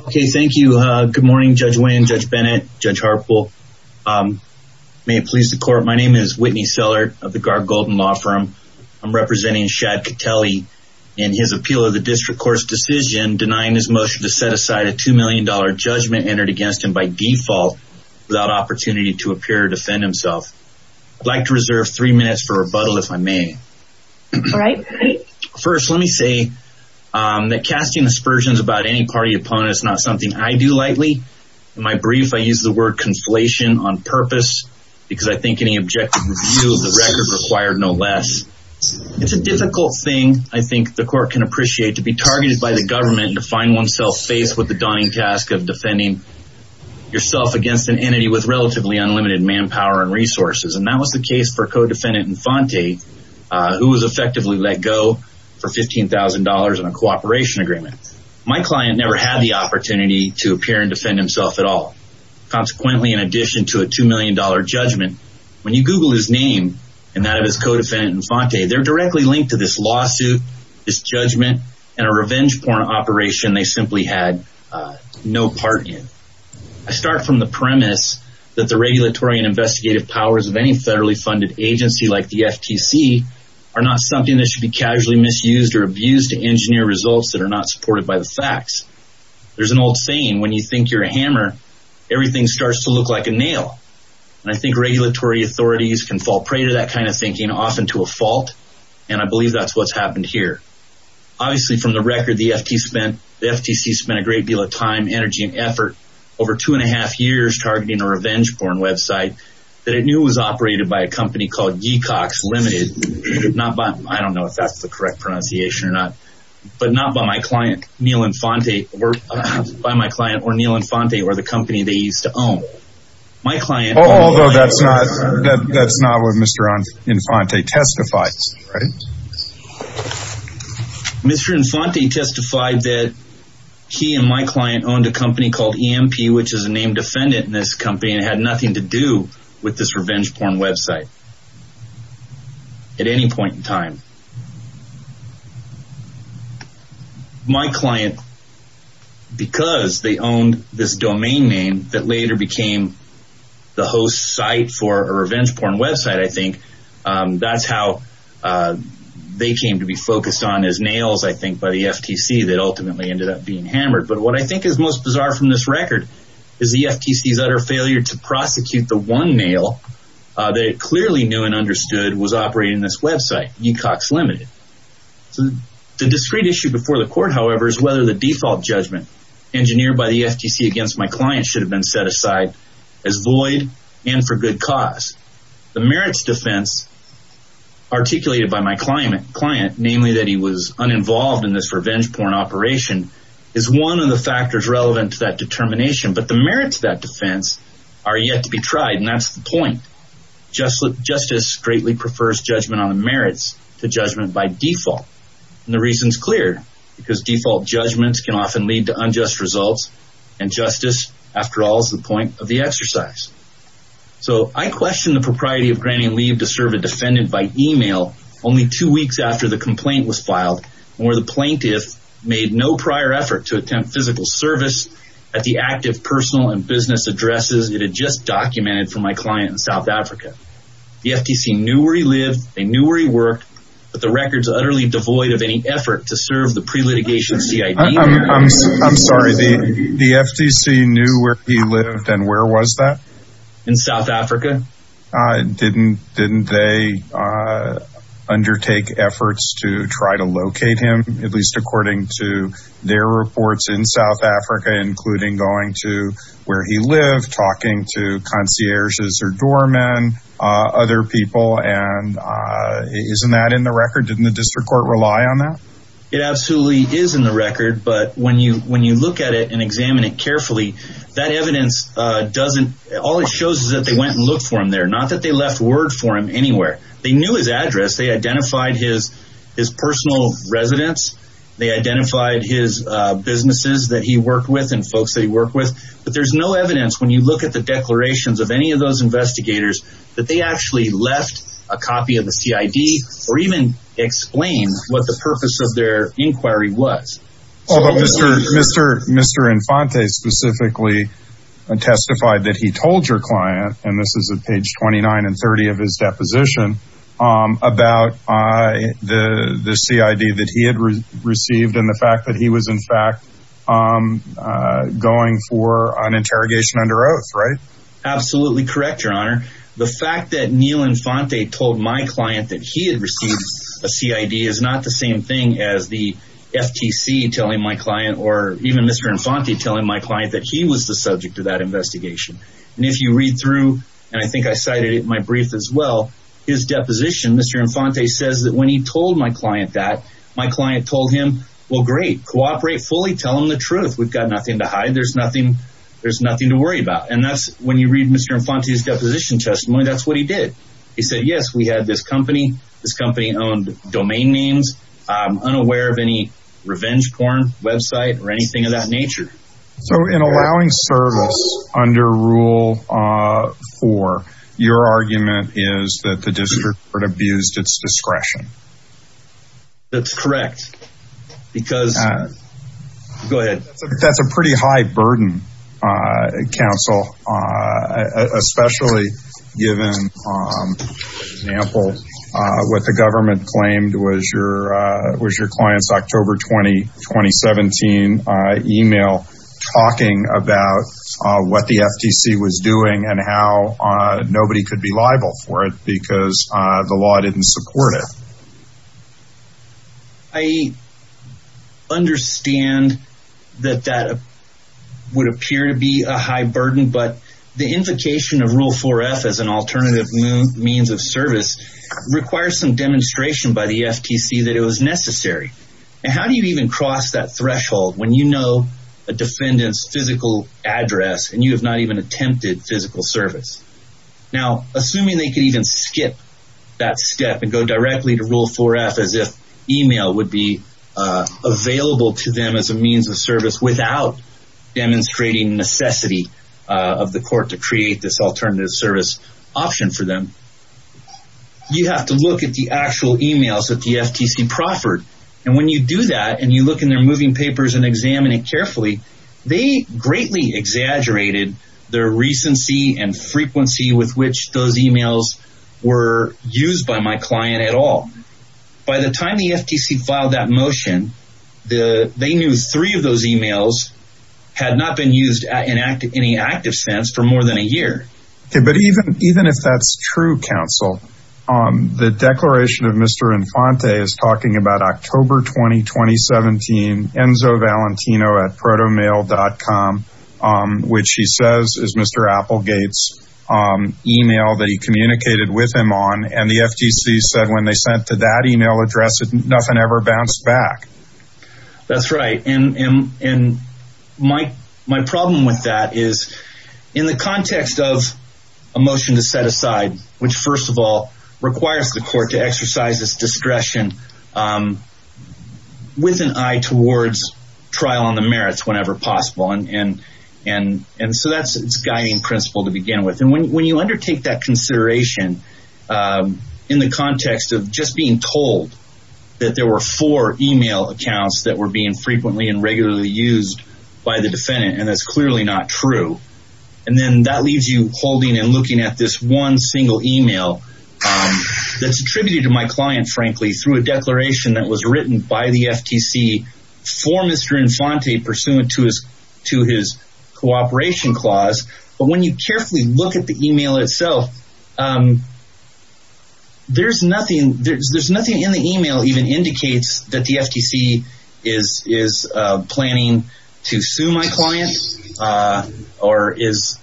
Okay, thank you. Good morning, Judge Wayne, Judge Bennett, Judge Harpool. May it please the court, my name is Whitney Sellert of the Gargolden Law Firm. I'm representing Shad Cottelli in his appeal of the district court's decision denying his motion to set aside a $2 million judgment entered against him by default without opportunity to appear to defend himself. I'd like to reserve three minutes for rebuttal if I may. All right. First, let me say that casting aspersions about any party opponent is not something I do lightly. In my brief, I use the word conflation on purpose because I think any objective review of the record required no less. It's a difficult thing, I think the court can appreciate, to be targeted by the government and to find oneself faced with the daunting task of defending yourself against an entity with relatively unlimited manpower and resources. And that was the case for co-defendant Infante, who was effectively let go for $15,000 in a cooperation agreement. My client never had the opportunity to appear and defend himself at all. Consequently, in addition to a $2 million judgment, when you Google his name and that of his co-defendant Infante, they're directly linked to this lawsuit, this judgment, and a revenge porn operation they simply had no part in. I start from the premise that the regulatory and investigative powers of a federally funded agency like the FTC are not something that should be casually misused or abused to engineer results that are not supported by the facts. There's an old saying, when you think you're a hammer, everything starts to look like a nail. And I think regulatory authorities can fall prey to that kind of thinking, often to a fault, and I believe that's what's happened here. Obviously, from the record, the FTC spent a great deal of time, energy, and effort over two and a by a company called Yeecox Limited. Not by, I don't know if that's the correct pronunciation or not, but not by my client, Neil Infante, or the company they used to own. Although that's not what Mr. Infante testifies, right? Mr. Infante testified that he and my client owned a company called EMP, which is a named defendant in this company and had nothing to do with this revenge porn website at any point in time. My client, because they owned this domain name that later became the host site for a revenge porn website, I think that's how they came to be focused on as nails, I think, by the FTC that ended up being hammered. But what I think is most bizarre from this record is the FTC's utter failure to prosecute the one nail that it clearly knew and understood was operating this website, Yeecox Limited. The discrete issue before the court, however, is whether the default judgment engineered by the FTC against my client should have been set aside as void and for good cause. The merits defense articulated by my client, namely that he was uninvolved in this revenge porn operation, is one of the factors relevant to that determination. But the merits of that defense are yet to be tried. And that's the point. Justice greatly prefers judgment on the merits to judgment by default. And the reason is clear, because default judgments can often lead to unjust results. And justice, after all, is the point of the exercise. So I question the propriety of granting leave to serve a defendant by email only two weeks after the complaint was filed, where the plaintiff made no prior effort to attempt physical service at the active personal and business addresses it had just documented for my client in South Africa. The FTC knew where he lived, they knew where he worked, but the record's utterly devoid of any effort to serve the pre-litigation CID. I'm sorry, the FTC knew where he lived and where was that? In South Africa? Didn't they undertake efforts to try to locate him, at least according to their reports in South Africa, including going to where he lived, talking to concierges or doorman, other people? And isn't that in the record? Didn't the district court rely on that? It absolutely is in the record. But when you look at it and examine it carefully, that evidence doesn't, all it shows is that they went and looked for him there, not that they left word for him anywhere. They knew his address, they identified his personal residence, they identified his businesses that he worked with and folks that he worked with, but there's no evidence when you look at the declarations of any of those investigators that they actually left a copy of the CID or even explain what the purpose of their inquiry was. But Mr. Infante specifically testified that he told your client, and this is at page 29 and 30 of his deposition, about the CID that he had received and the fact that he was in fact going for an interrogation under oath, right? Absolutely correct, your honor. The fact that or even Mr. Infante telling my client that he was the subject of that investigation. And if you read through, and I think I cited it in my brief as well, his deposition, Mr. Infante says that when he told my client that, my client told him, well great, cooperate fully, tell him the truth, we've got nothing to hide, there's nothing to worry about. And that's when you read Mr. Infante's deposition testimony, that's what he did. He said, yes, we had this company, this company owned domain names, I'm unaware of any revenge porn website or anything of that nature. So in allowing service under rule four, your argument is that the district court abused its discretion? That's correct, because- Go ahead. That's a pretty high burden, counsel, especially given, for example, what the government claimed was your client's October 20, 2017 email talking about what the FTC was doing and how nobody could be liable for it because the law didn't support it. I understand that that would appear to be a high burden, but the invocation of rule four F as an alternative means of service requires some demonstration by the FTC that it was necessary. And how do you even cross that threshold when you know a defendant's physical address and you have not even attempted physical service? Now, assuming they could even skip that step and go directly to rule four F as if email would be available to them as a means of service without demonstrating necessity of the court to create this alternative service option for them, you have to look at the actual emails that the FTC proffered. And when you do that and you look in their moving papers and examine it carefully, they greatly exaggerated their recency and frequency with which those emails were used by my client at all. By the time the FTC filed that motion, they knew three of those emails had not been used in any active sense for more than a year. Okay, but even if that's true, counsel, the declaration of Mr. Infante is talking about October 20, 2017, enzovalentino at protomail.com, which he says is Mr. Applegate's email that he communicated with him on. And the FTC said when they sent to that email address, nothing ever bounced back. That's right. And my problem with that is in the context of a motion to set aside, which first of all, possible. And so that's its guiding principle to begin with. And when you undertake that consideration in the context of just being told that there were four email accounts that were being frequently and regularly used by the defendant, and that's clearly not true. And then that leaves you holding and looking at this one single email that's attributed to my client, frankly, through a declaration that was written by the FTC for Mr. Infante pursuant to his cooperation clause. But when you carefully look at the email itself, there's nothing in the email even indicates that the FTC is planning to sue my client or is...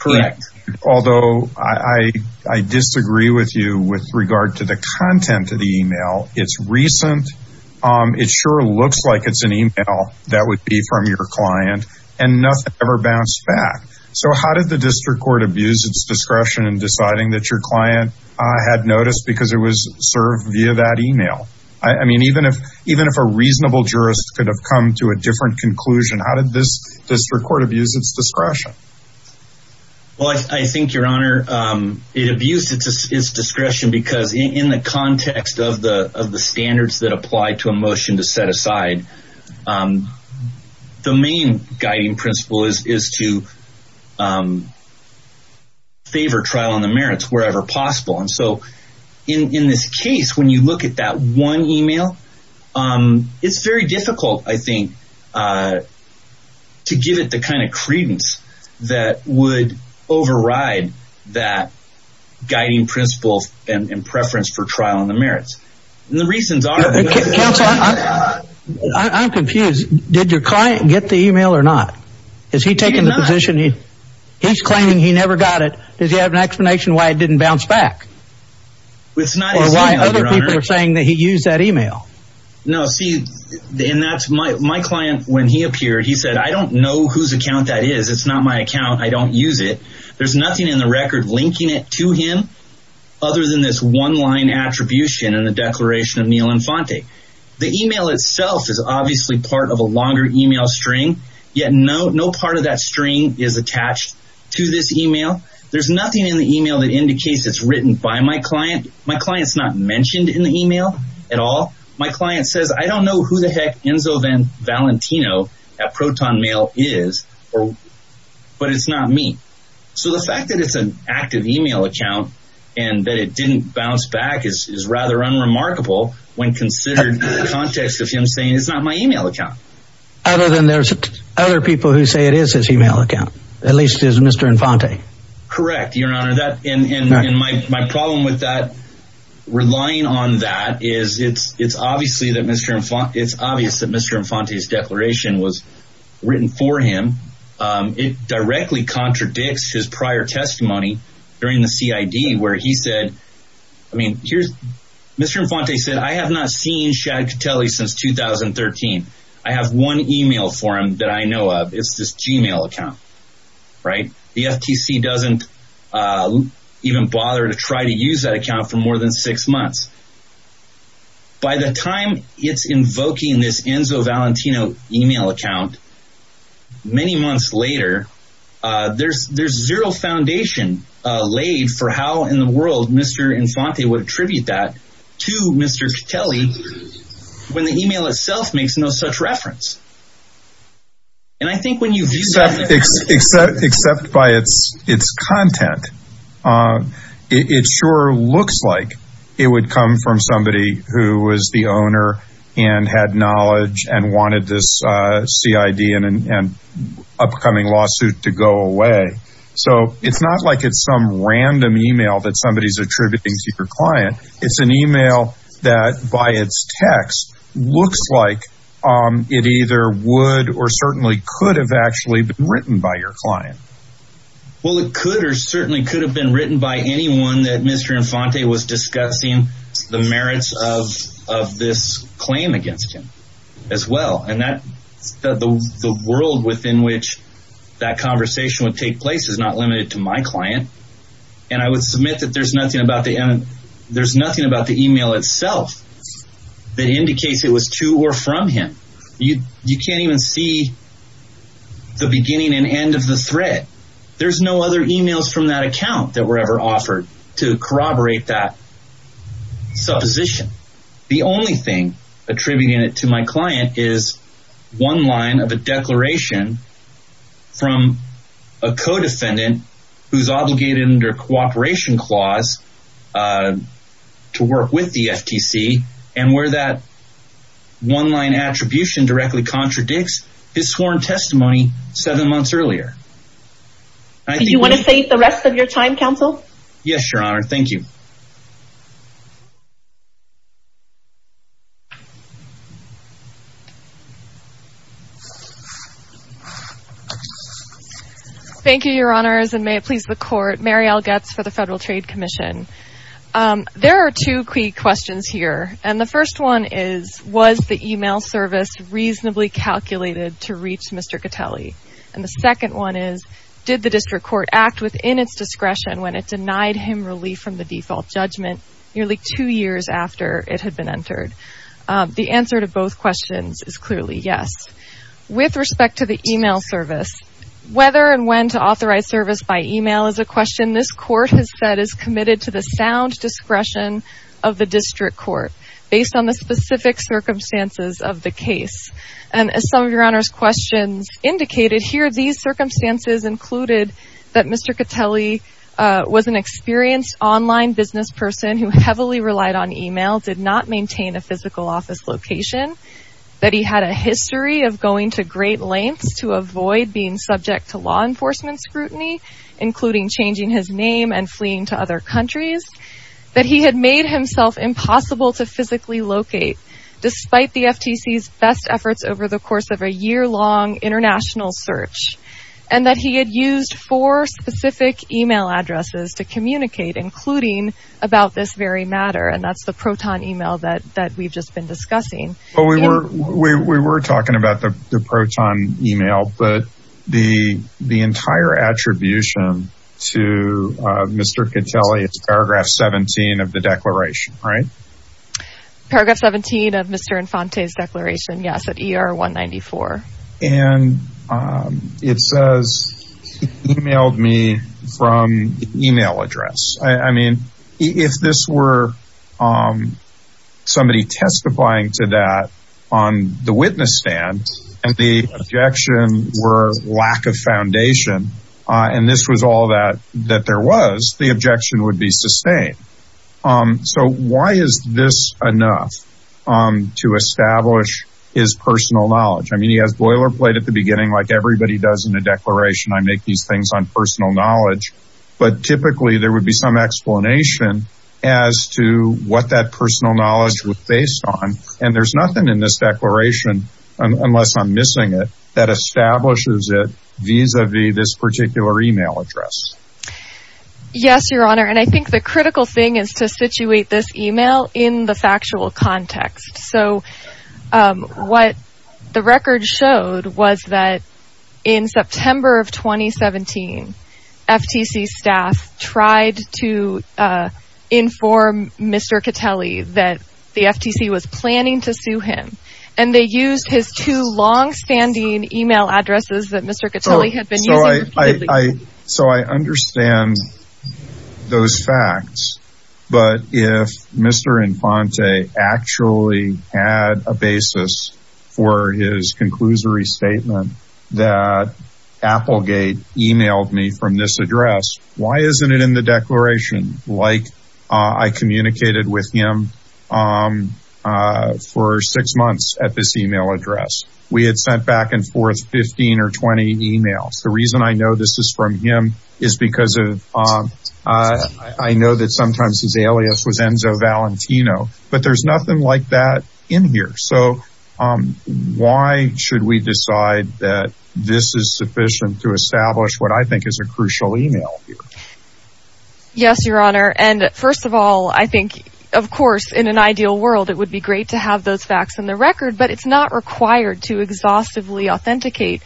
Correct. Although I disagree with you with regard to the content of the email. It's recent. It sure looks like it's an email that would be from your client and nothing ever bounced back. So how did the district court abuse its discretion in deciding that your client had noticed because it was served via that email? I mean, even if a reasonable jurist could have come to a different conclusion, how did this district court abuse its discretion? Well, I think, your honor, it abused its discretion because in the context of the standards that apply to a motion to set aside, the main guiding principle is to favor trial on the merits wherever possible. And so in this case, when you look at one email, it's very difficult, I think, to give it the kind of credence that would override that guiding principles and preference for trial on the merits. And the reasons are... I'm confused. Did your client get the email or not? Has he taken the position? He's claiming he never got it. Does he have an explanation why it didn't bounce back? Or why other people are using that email? No, see, my client, when he appeared, he said, I don't know whose account that is. It's not my account. I don't use it. There's nothing in the record linking it to him other than this one line attribution and the declaration of Neil Infante. The email itself is obviously part of a longer email string, yet no part of that string is attached to this email. There's nothing in the email that indicates it's written by my client. My client's not mentioned in the email at all. My client says, I don't know who the heck Enzo Van Valentino at ProtonMail is, but it's not me. So the fact that it's an active email account and that it didn't bounce back is rather unremarkable when considered in the context of him saying it's not my email account. Other than there's other people who say it is his email account. At least it is Mr. Infante. Correct, Your Honor. And my problem with that relying on that is it's obvious that Mr. Infante's declaration was written for him. It directly contradicts his prior testimony during the CID where he said, I mean, Mr. Infante said, I have not seen Chad Catelli since 2013. I have one email for him that I know of. It's this Gmail account, right? The FTC doesn't even bother to try to use that account for more than six months. By the time it's invoking this Enzo Valentino email account, many months later, there's zero foundation laid for how in the world Mr. Infante would attribute that to Mr. Catelli when the email itself makes no such reference. Except by its content. It sure looks like it would come from somebody who was the owner and had knowledge and wanted this CID and upcoming lawsuit to go away. So it's not like it's some random email that somebody's attributing to your client. It's an It either would or certainly could have actually been written by your client. Well, it could or certainly could have been written by anyone that Mr. Infante was discussing the merits of this claim against him as well. And the world within which that conversation would take place is not limited to my client. And I would submit that there's nothing about the email itself that indicates it was to or from him. You can't even see the beginning and end of the thread. There's no other emails from that account that were ever offered to corroborate that supposition. The only thing attributing it to my client is one line of a declaration from a co-defendant who's obligated under cooperation clause to work with the FTC and where that one line attribution directly contradicts his sworn testimony seven months earlier. Do you want to save the rest of your time, counsel? Yes, your honor. Thank you. Thank you, your honors, and may it please the court. Mary L. Getz for the Federal Trade Commission. There are two key questions here. And the first one is, was the email service reasonably calculated to reach Mr. Catelli? And the second one is, did the district court act within its discretion when it denied him relief from the default judgment nearly two years after it had been entered? The answer to both questions is clearly yes. With respect to the email service, whether and when to authorize service by email is a question this court has said is committed to the sound discretion of the district court based on the specific circumstances of the case. And as some of your honors questions indicated here, these circumstances included that Mr. Catelli was experienced online business person who heavily relied on email, did not maintain a physical office location, that he had a history of going to great lengths to avoid being subject to law enforcement scrutiny, including changing his name and fleeing to other countries, that he had made himself impossible to physically locate despite the FTC's best efforts over the course of a yearlong international search, and that he had used four specific email addresses to communicate, including about this very matter, and that's the Proton email that we've just been discussing. But we were talking about the Proton email, but the entire attribution to Mr. Catelli, it's paragraph 17 of the declaration, right? Paragraph 17 of Mr. Infante's declaration, yes, at ER 194. And it says he emailed me from email address. I mean, if this were somebody testifying to that on the witness stand, and the objection were lack of foundation, and this was all that that there was, the objection would be sustained. So why is this enough to establish his personal knowledge? I mean, he has boilerplate at the beginning, like everybody does in a declaration, I make these things on personal knowledge, but typically there would be some explanation as to what that personal knowledge was based on, and there's nothing in this declaration, unless I'm missing it, that establishes it vis-a-vis this particular email address. Yes, your honor, and I think the critical thing is to situate this email in the factual context. So what the record showed was that in September of 2017, FTC staff tried to inform Mr. Catelli that the FTC was planning to sue him, and they used his two long-standing email addresses that Mr. Catelli had a basis for his conclusory statement that Applegate emailed me from this address. Why isn't it in the declaration? Like I communicated with him for six months at this email address. We had sent back and forth 15 or 20 emails. The reason I know this is from him is because I know that sometimes his alias was Enzo Valentino, but there's nothing like that in here. So why should we decide that this is sufficient to establish what I think is a crucial email here? Yes, your honor, and first of all, I think, of course, in an ideal world, it would be great to have those facts in the record, but it's not required to exhaustively authenticate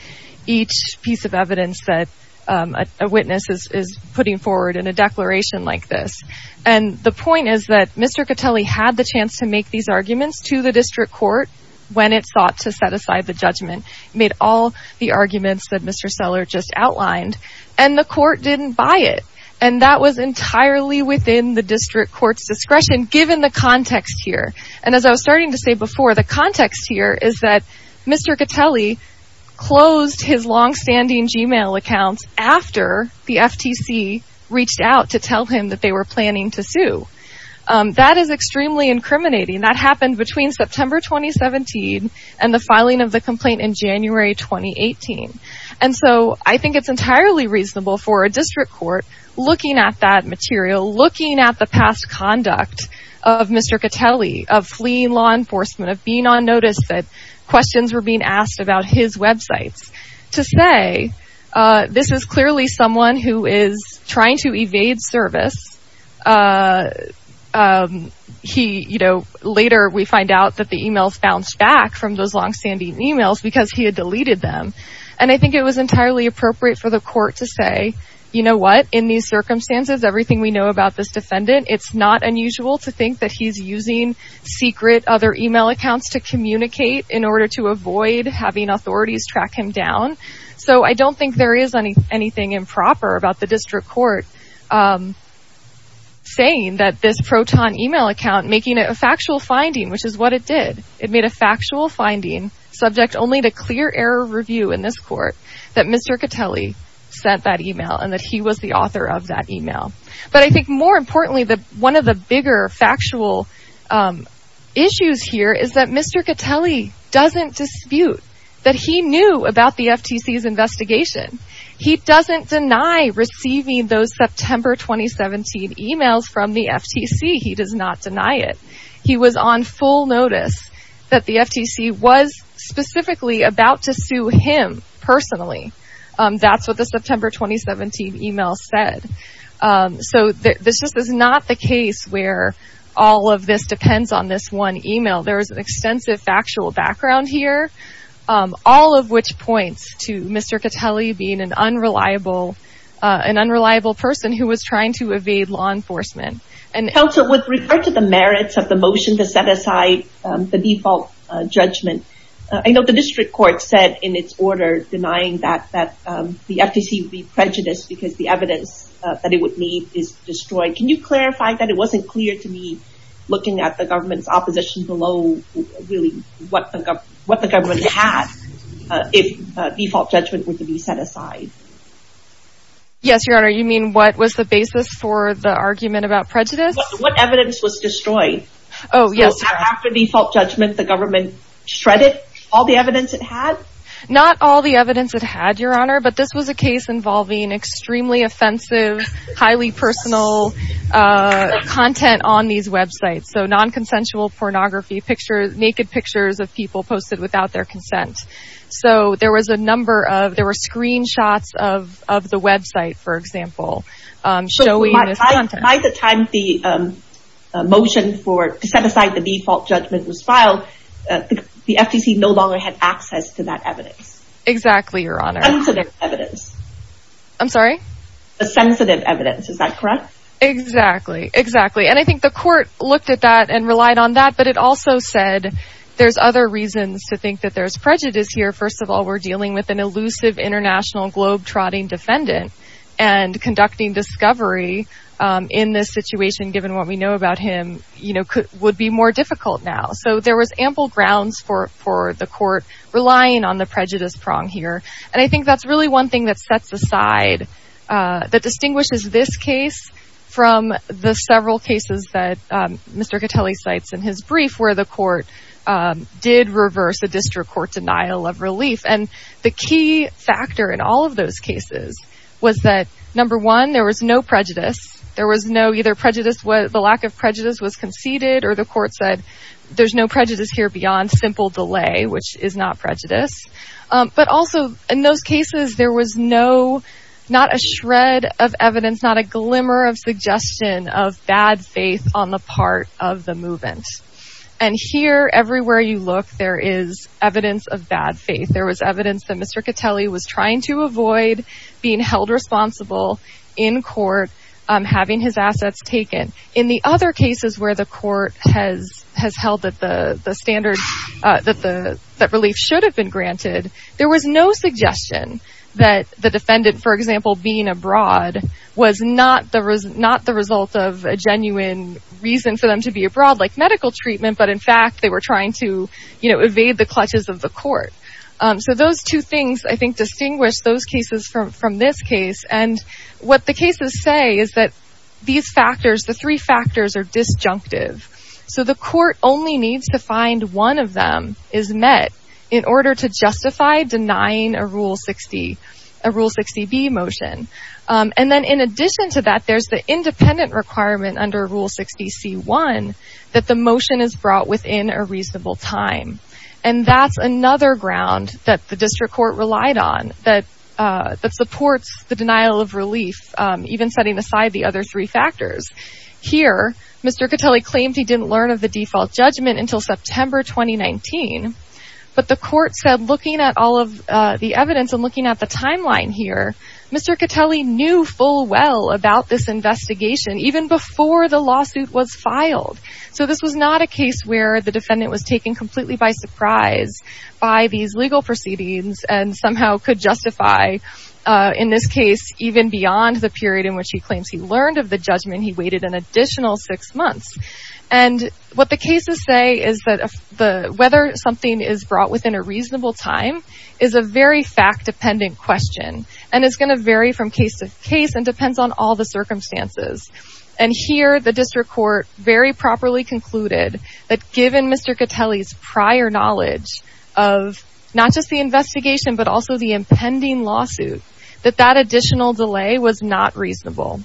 each piece of evidence that a witness is putting forward in a declaration like this. And the point is that Mr. Catelli had the chance to make these arguments to the district court when it sought to set aside the judgment, made all the arguments that Mr. Seller just outlined, and the court didn't buy it. And that was entirely within the district court's discretion, given the context here. And as I was starting to say before, the context here is that Mr. Catelli closed his longstanding Gmail account after the FTC reached out to tell him that they were planning to sue. That is extremely incriminating. That happened between September 2017 and the filing of the complaint in January 2018. And so I think it's entirely reasonable for a district court looking at that material, looking at the past conduct of Mr. Catelli, of fleeing law enforcement, of being on notice that questions were being asked about his websites, to say this is clearly someone who is trying to evade service. He, you know, later we find out that the emails bounced back from those longstanding emails because he had deleted them. And I think it was entirely appropriate for the court to say, you know what, in these circumstances, everything we know about this defendant, it's not unusual to think that he's using secret other email accounts to communicate in order to avoid having authorities track him down. So I don't think there is any anything improper about the district court saying that this Proton email account, making it a factual finding, which is what it did. It made a factual finding, subject only to clear error review in this court, that Mr. Catelli sent that email and that he was the author of that email. But I think more importantly, one of the bigger factual issues here is that Mr. Catelli doesn't dispute that he knew about the FTC's investigation. He doesn't deny receiving those September 2017 emails from the FTC. He does not deny it. He was on full notice that the FTC was specifically about to sue him personally. That's what the September 2017 email said. So this just is not the case where all of this depends on this one email. There is an extensive factual background here, all of which points to Mr. Catelli being an unreliable person who was trying to evade law enforcement. Counsel, with regard to the merits of the motion to set aside the default judgment, I know the district court said in its order denying that the FTC would be prejudiced because the evidence that it would need is destroyed. Can you clarify that it wasn't clear to me, looking at the government's opposition below, really what the government had if default judgment were to be set aside? Yes, Your Honor. You mean what was the basis for the argument about prejudice? What evidence was destroyed? Oh, yes. After default judgment, the government shredded all the evidence it had? Not all the evidence it had, Your Honor, but this was a case involving extremely offensive, highly personal content on these websites. So non-consensual pornography, naked pictures of people posted without their consent. So there were screenshots of the website, for example, showing this content. By the time the motion to set aside the default judgment was filed, the FTC no longer had access to that evidence. Exactly, Your Honor. Sensitive evidence. I'm sorry? The sensitive evidence. Is that correct? Exactly. Exactly. And I think the court looked at that and relied on that, but it also said there's other reasons to think that there's prejudice here. First of all, we're dealing with an elusive international globe-trotting defendant and conducting discovery in this situation, given what we know about him, would be more difficult now. So there was ample grounds for the court relying on the prejudice prong here. And I think that's really one thing that sets aside, that distinguishes this case from the several cases that Mr. Catelli cites in his brief, where the court did reverse a district court denial of was that, number one, there was no prejudice. There was no either prejudice, the lack of prejudice was conceded or the court said, there's no prejudice here beyond simple delay, which is not prejudice. But also in those cases, there was no, not a shred of evidence, not a glimmer of suggestion of bad faith on the part of the movement. And here, everywhere you look, there is evidence of bad faith. There was evidence that Mr. Catelli was trying to avoid being held responsible in court, having his assets taken. In the other cases where the court has held that the standards, that relief should have been granted, there was no suggestion that the defendant, for example, being abroad was not the result of a genuine reason for them to be abroad, like medical treatment, but in fact, they were trying to evade the clutches of the court. So those two things, I think, distinguish those cases from this case. And what the cases say is that these factors, the three factors are disjunctive. So the court only needs to find one of them is met in order to justify denying a Rule 60, a Rule 60B motion. And then in addition to that, there's the independent requirement under Rule 60C1 that the motion is brought within a that the district court relied on, that supports the denial of relief, even setting aside the other three factors. Here, Mr. Catelli claimed he didn't learn of the default judgment until September 2019. But the court said, looking at all of the evidence and looking at the timeline here, Mr. Catelli knew full well about this investigation even before the lawsuit was filed. So this was not a case where the defendant was taken completely by surprise by these legal proceedings and somehow could justify, in this case, even beyond the period in which he claims he learned of the judgment, he waited an additional six months. And what the cases say is that whether something is brought within a reasonable time is a very fact-dependent question, and it's going to vary from case to case and depends on all the circumstances. And here, the district court very properly concluded that given Mr. Catelli's prior knowledge of not just the investigation but also the impending lawsuit, that that additional delay was not reasonable.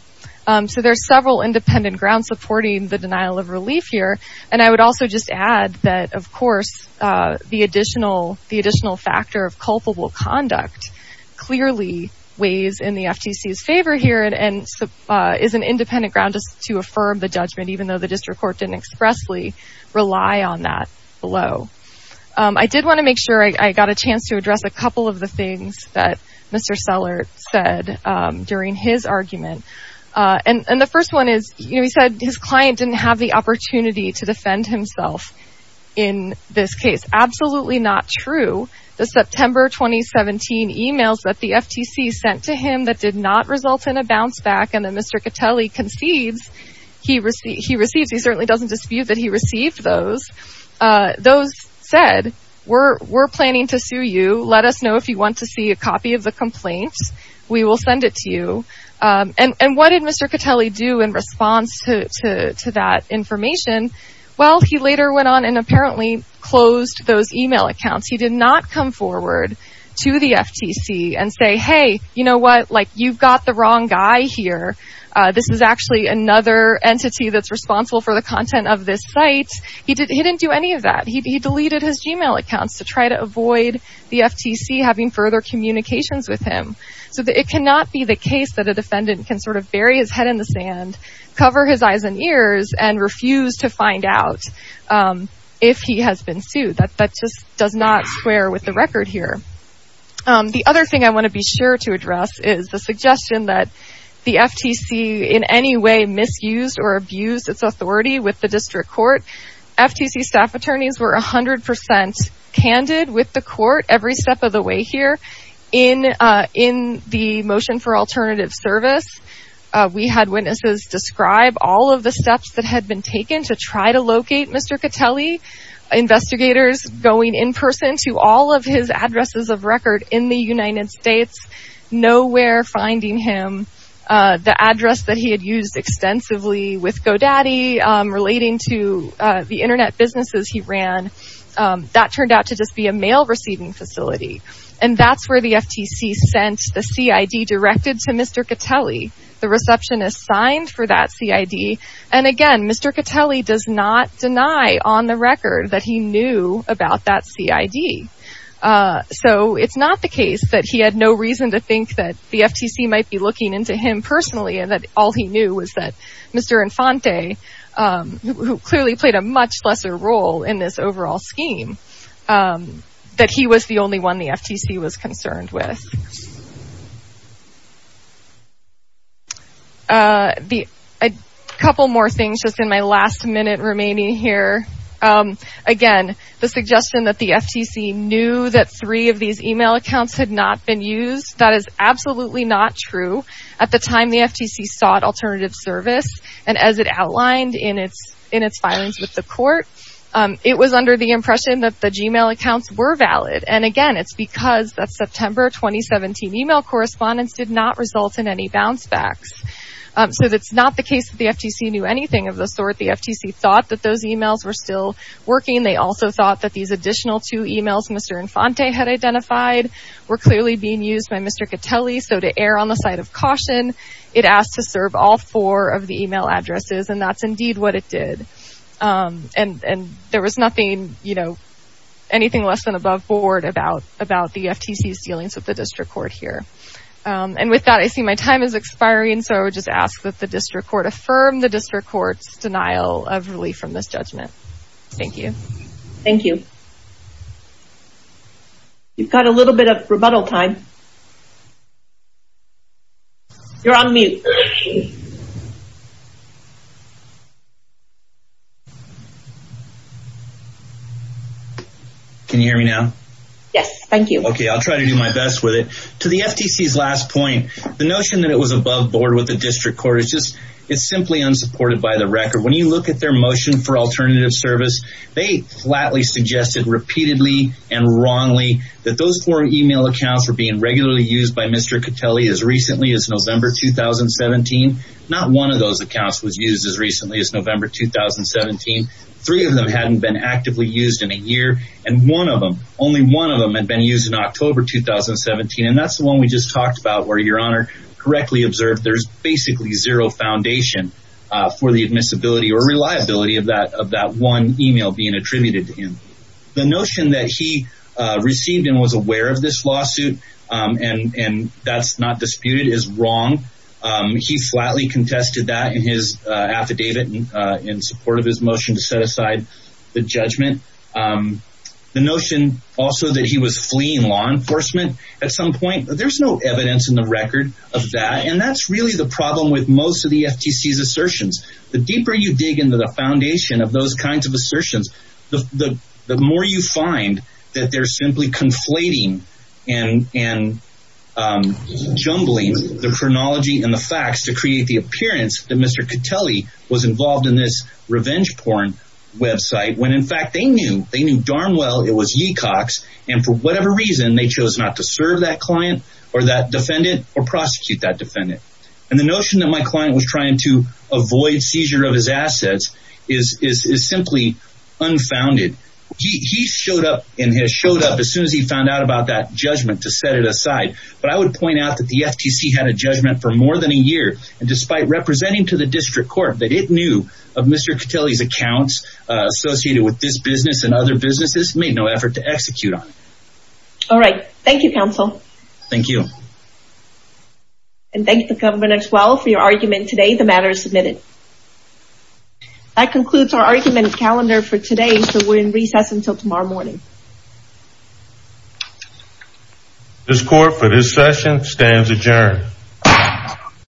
So there's several independent grounds supporting the denial of relief here. And I would also just add that, of course, the additional factor of culpable conduct clearly weighs in the FTC's favor here and is an independent ground to affirm the judgment, even though the district court didn't expressly rely on that below. I did want to make sure I got a chance to address a couple of the things that Mr. Seller said during his argument. And the first one is, he said his client didn't have the opportunity to defend that the FTC sent to him that did not result in a bounce back and that Mr. Catelli concedes he received. He certainly doesn't dispute that he received those. Those said, we're planning to sue you. Let us know if you want to see a copy of the complaint. We will send it to you. And what did Mr. Catelli do in response to that information? Well, he later went on and apparently closed those email accounts. He did not come forward to the FTC and say, hey, you know what, like, you've got the wrong guy here. This is actually another entity that's responsible for the content of this site. He didn't do any of that. He deleted his Gmail accounts to try to avoid the FTC having further communications with him. So it cannot be the case that a defendant can sort of bury his head in the sand, cover his eyes and ears and refuse to find out if he has been sued. That just does not square with the record here. The other thing I want to be sure to address is the suggestion that the FTC in any way misused or abused its authority with the district court. FTC staff attorneys were 100% candid with the court every step of the way here in the motion for alternative service. We had witnesses describe all of the steps that had been taken to try to going in person to all of his addresses of record in the United States, nowhere finding him. The address that he had used extensively with GoDaddy relating to the Internet businesses he ran, that turned out to just be a mail receiving facility. And that's where the FTC sent the CID directed to Mr. Catelli. The receptionist signed for that CID. And again, Mr. Catelli does not that CID. So it's not the case that he had no reason to think that the FTC might be looking into him personally and that all he knew was that Mr. Infante, who clearly played a much lesser role in this overall scheme, that he was the only one the FTC was concerned with. A couple more things just in my last minute remaining here. Again, the suggestion that the FTC knew that three of these email accounts had not been used, that is absolutely not true. At the time the FTC sought alternative service and as it outlined in its filings with the court, it was under the impression that the Gmail accounts were valid. And again, it's because that September 2017 email correspondence did not result in any bounce backs. So it's not the case that the FTC knew anything of the sort. The FTC thought that those emails were still working. They also thought that these additional two emails Mr. Infante had identified were clearly being used by Mr. Catelli. So to err on the side of caution, it asked to serve all four of the email addresses and that's indeed what it did. And there was nothing, you know, anything less than above about the FTC's dealings with the district court here. And with that, I see my time is expiring. So I would just ask that the district court affirm the district court's denial of relief from this judgment. Thank you. Thank you. You've got a little bit of rebuttal time. You're on mute. Can you hear me now? Yes, thank you. Okay, I'll try to do my best with it. To the FTC's last point, the notion that it was above board with the district court, it's just, it's simply unsupported by the record. When you look at their motion for alternative service, they flatly suggested repeatedly and wrongly that those four email accounts were being regularly used by Mr. Catelli. Not one of those accounts was used as recently as November 2017. Three of them hadn't been actively used in a year. And one of them, only one of them had been used in October 2017. And that's the one we just talked about where your honor correctly observed, there's basically zero foundation for the admissibility or reliability of that one email being attributed to him. The notion that he received and was aware of this lawsuit and that's not disputed is wrong. He flatly contested that in his affidavit in support of his motion to set aside the judgment. The notion also that he was fleeing law enforcement at some point, there's no evidence in the record of that. And that's really the problem with most of the FTC's assertions. The deeper you dig into the foundation of those kinds of assertions, the more you find that they're simply conflating and jumbling the chronology and the facts to create the appearance that Mr. Catelli was involved in this revenge porn website when in fact they knew, they knew darn well it was Yeecox. And for whatever reason, they chose not to serve that client or that defendant or prosecute that defendant. And the notion that my client was trying to avoid seizure of his assets is simply unfounded. He showed up and has showed up as soon as he found out about that judgment to set it aside. But I would point out that the FTC had a judgment for more than a year. And despite representing to the district court that it knew of Mr. Catelli's accounts associated with this business and other businesses, made no effort to execute on it. All right. Thank you, counsel. Thank you. And thank the government as well for your argument today. The matter is submitted. That concludes our argument calendar for today. So we're in recess until tomorrow morning. This court for this session stands adjourned.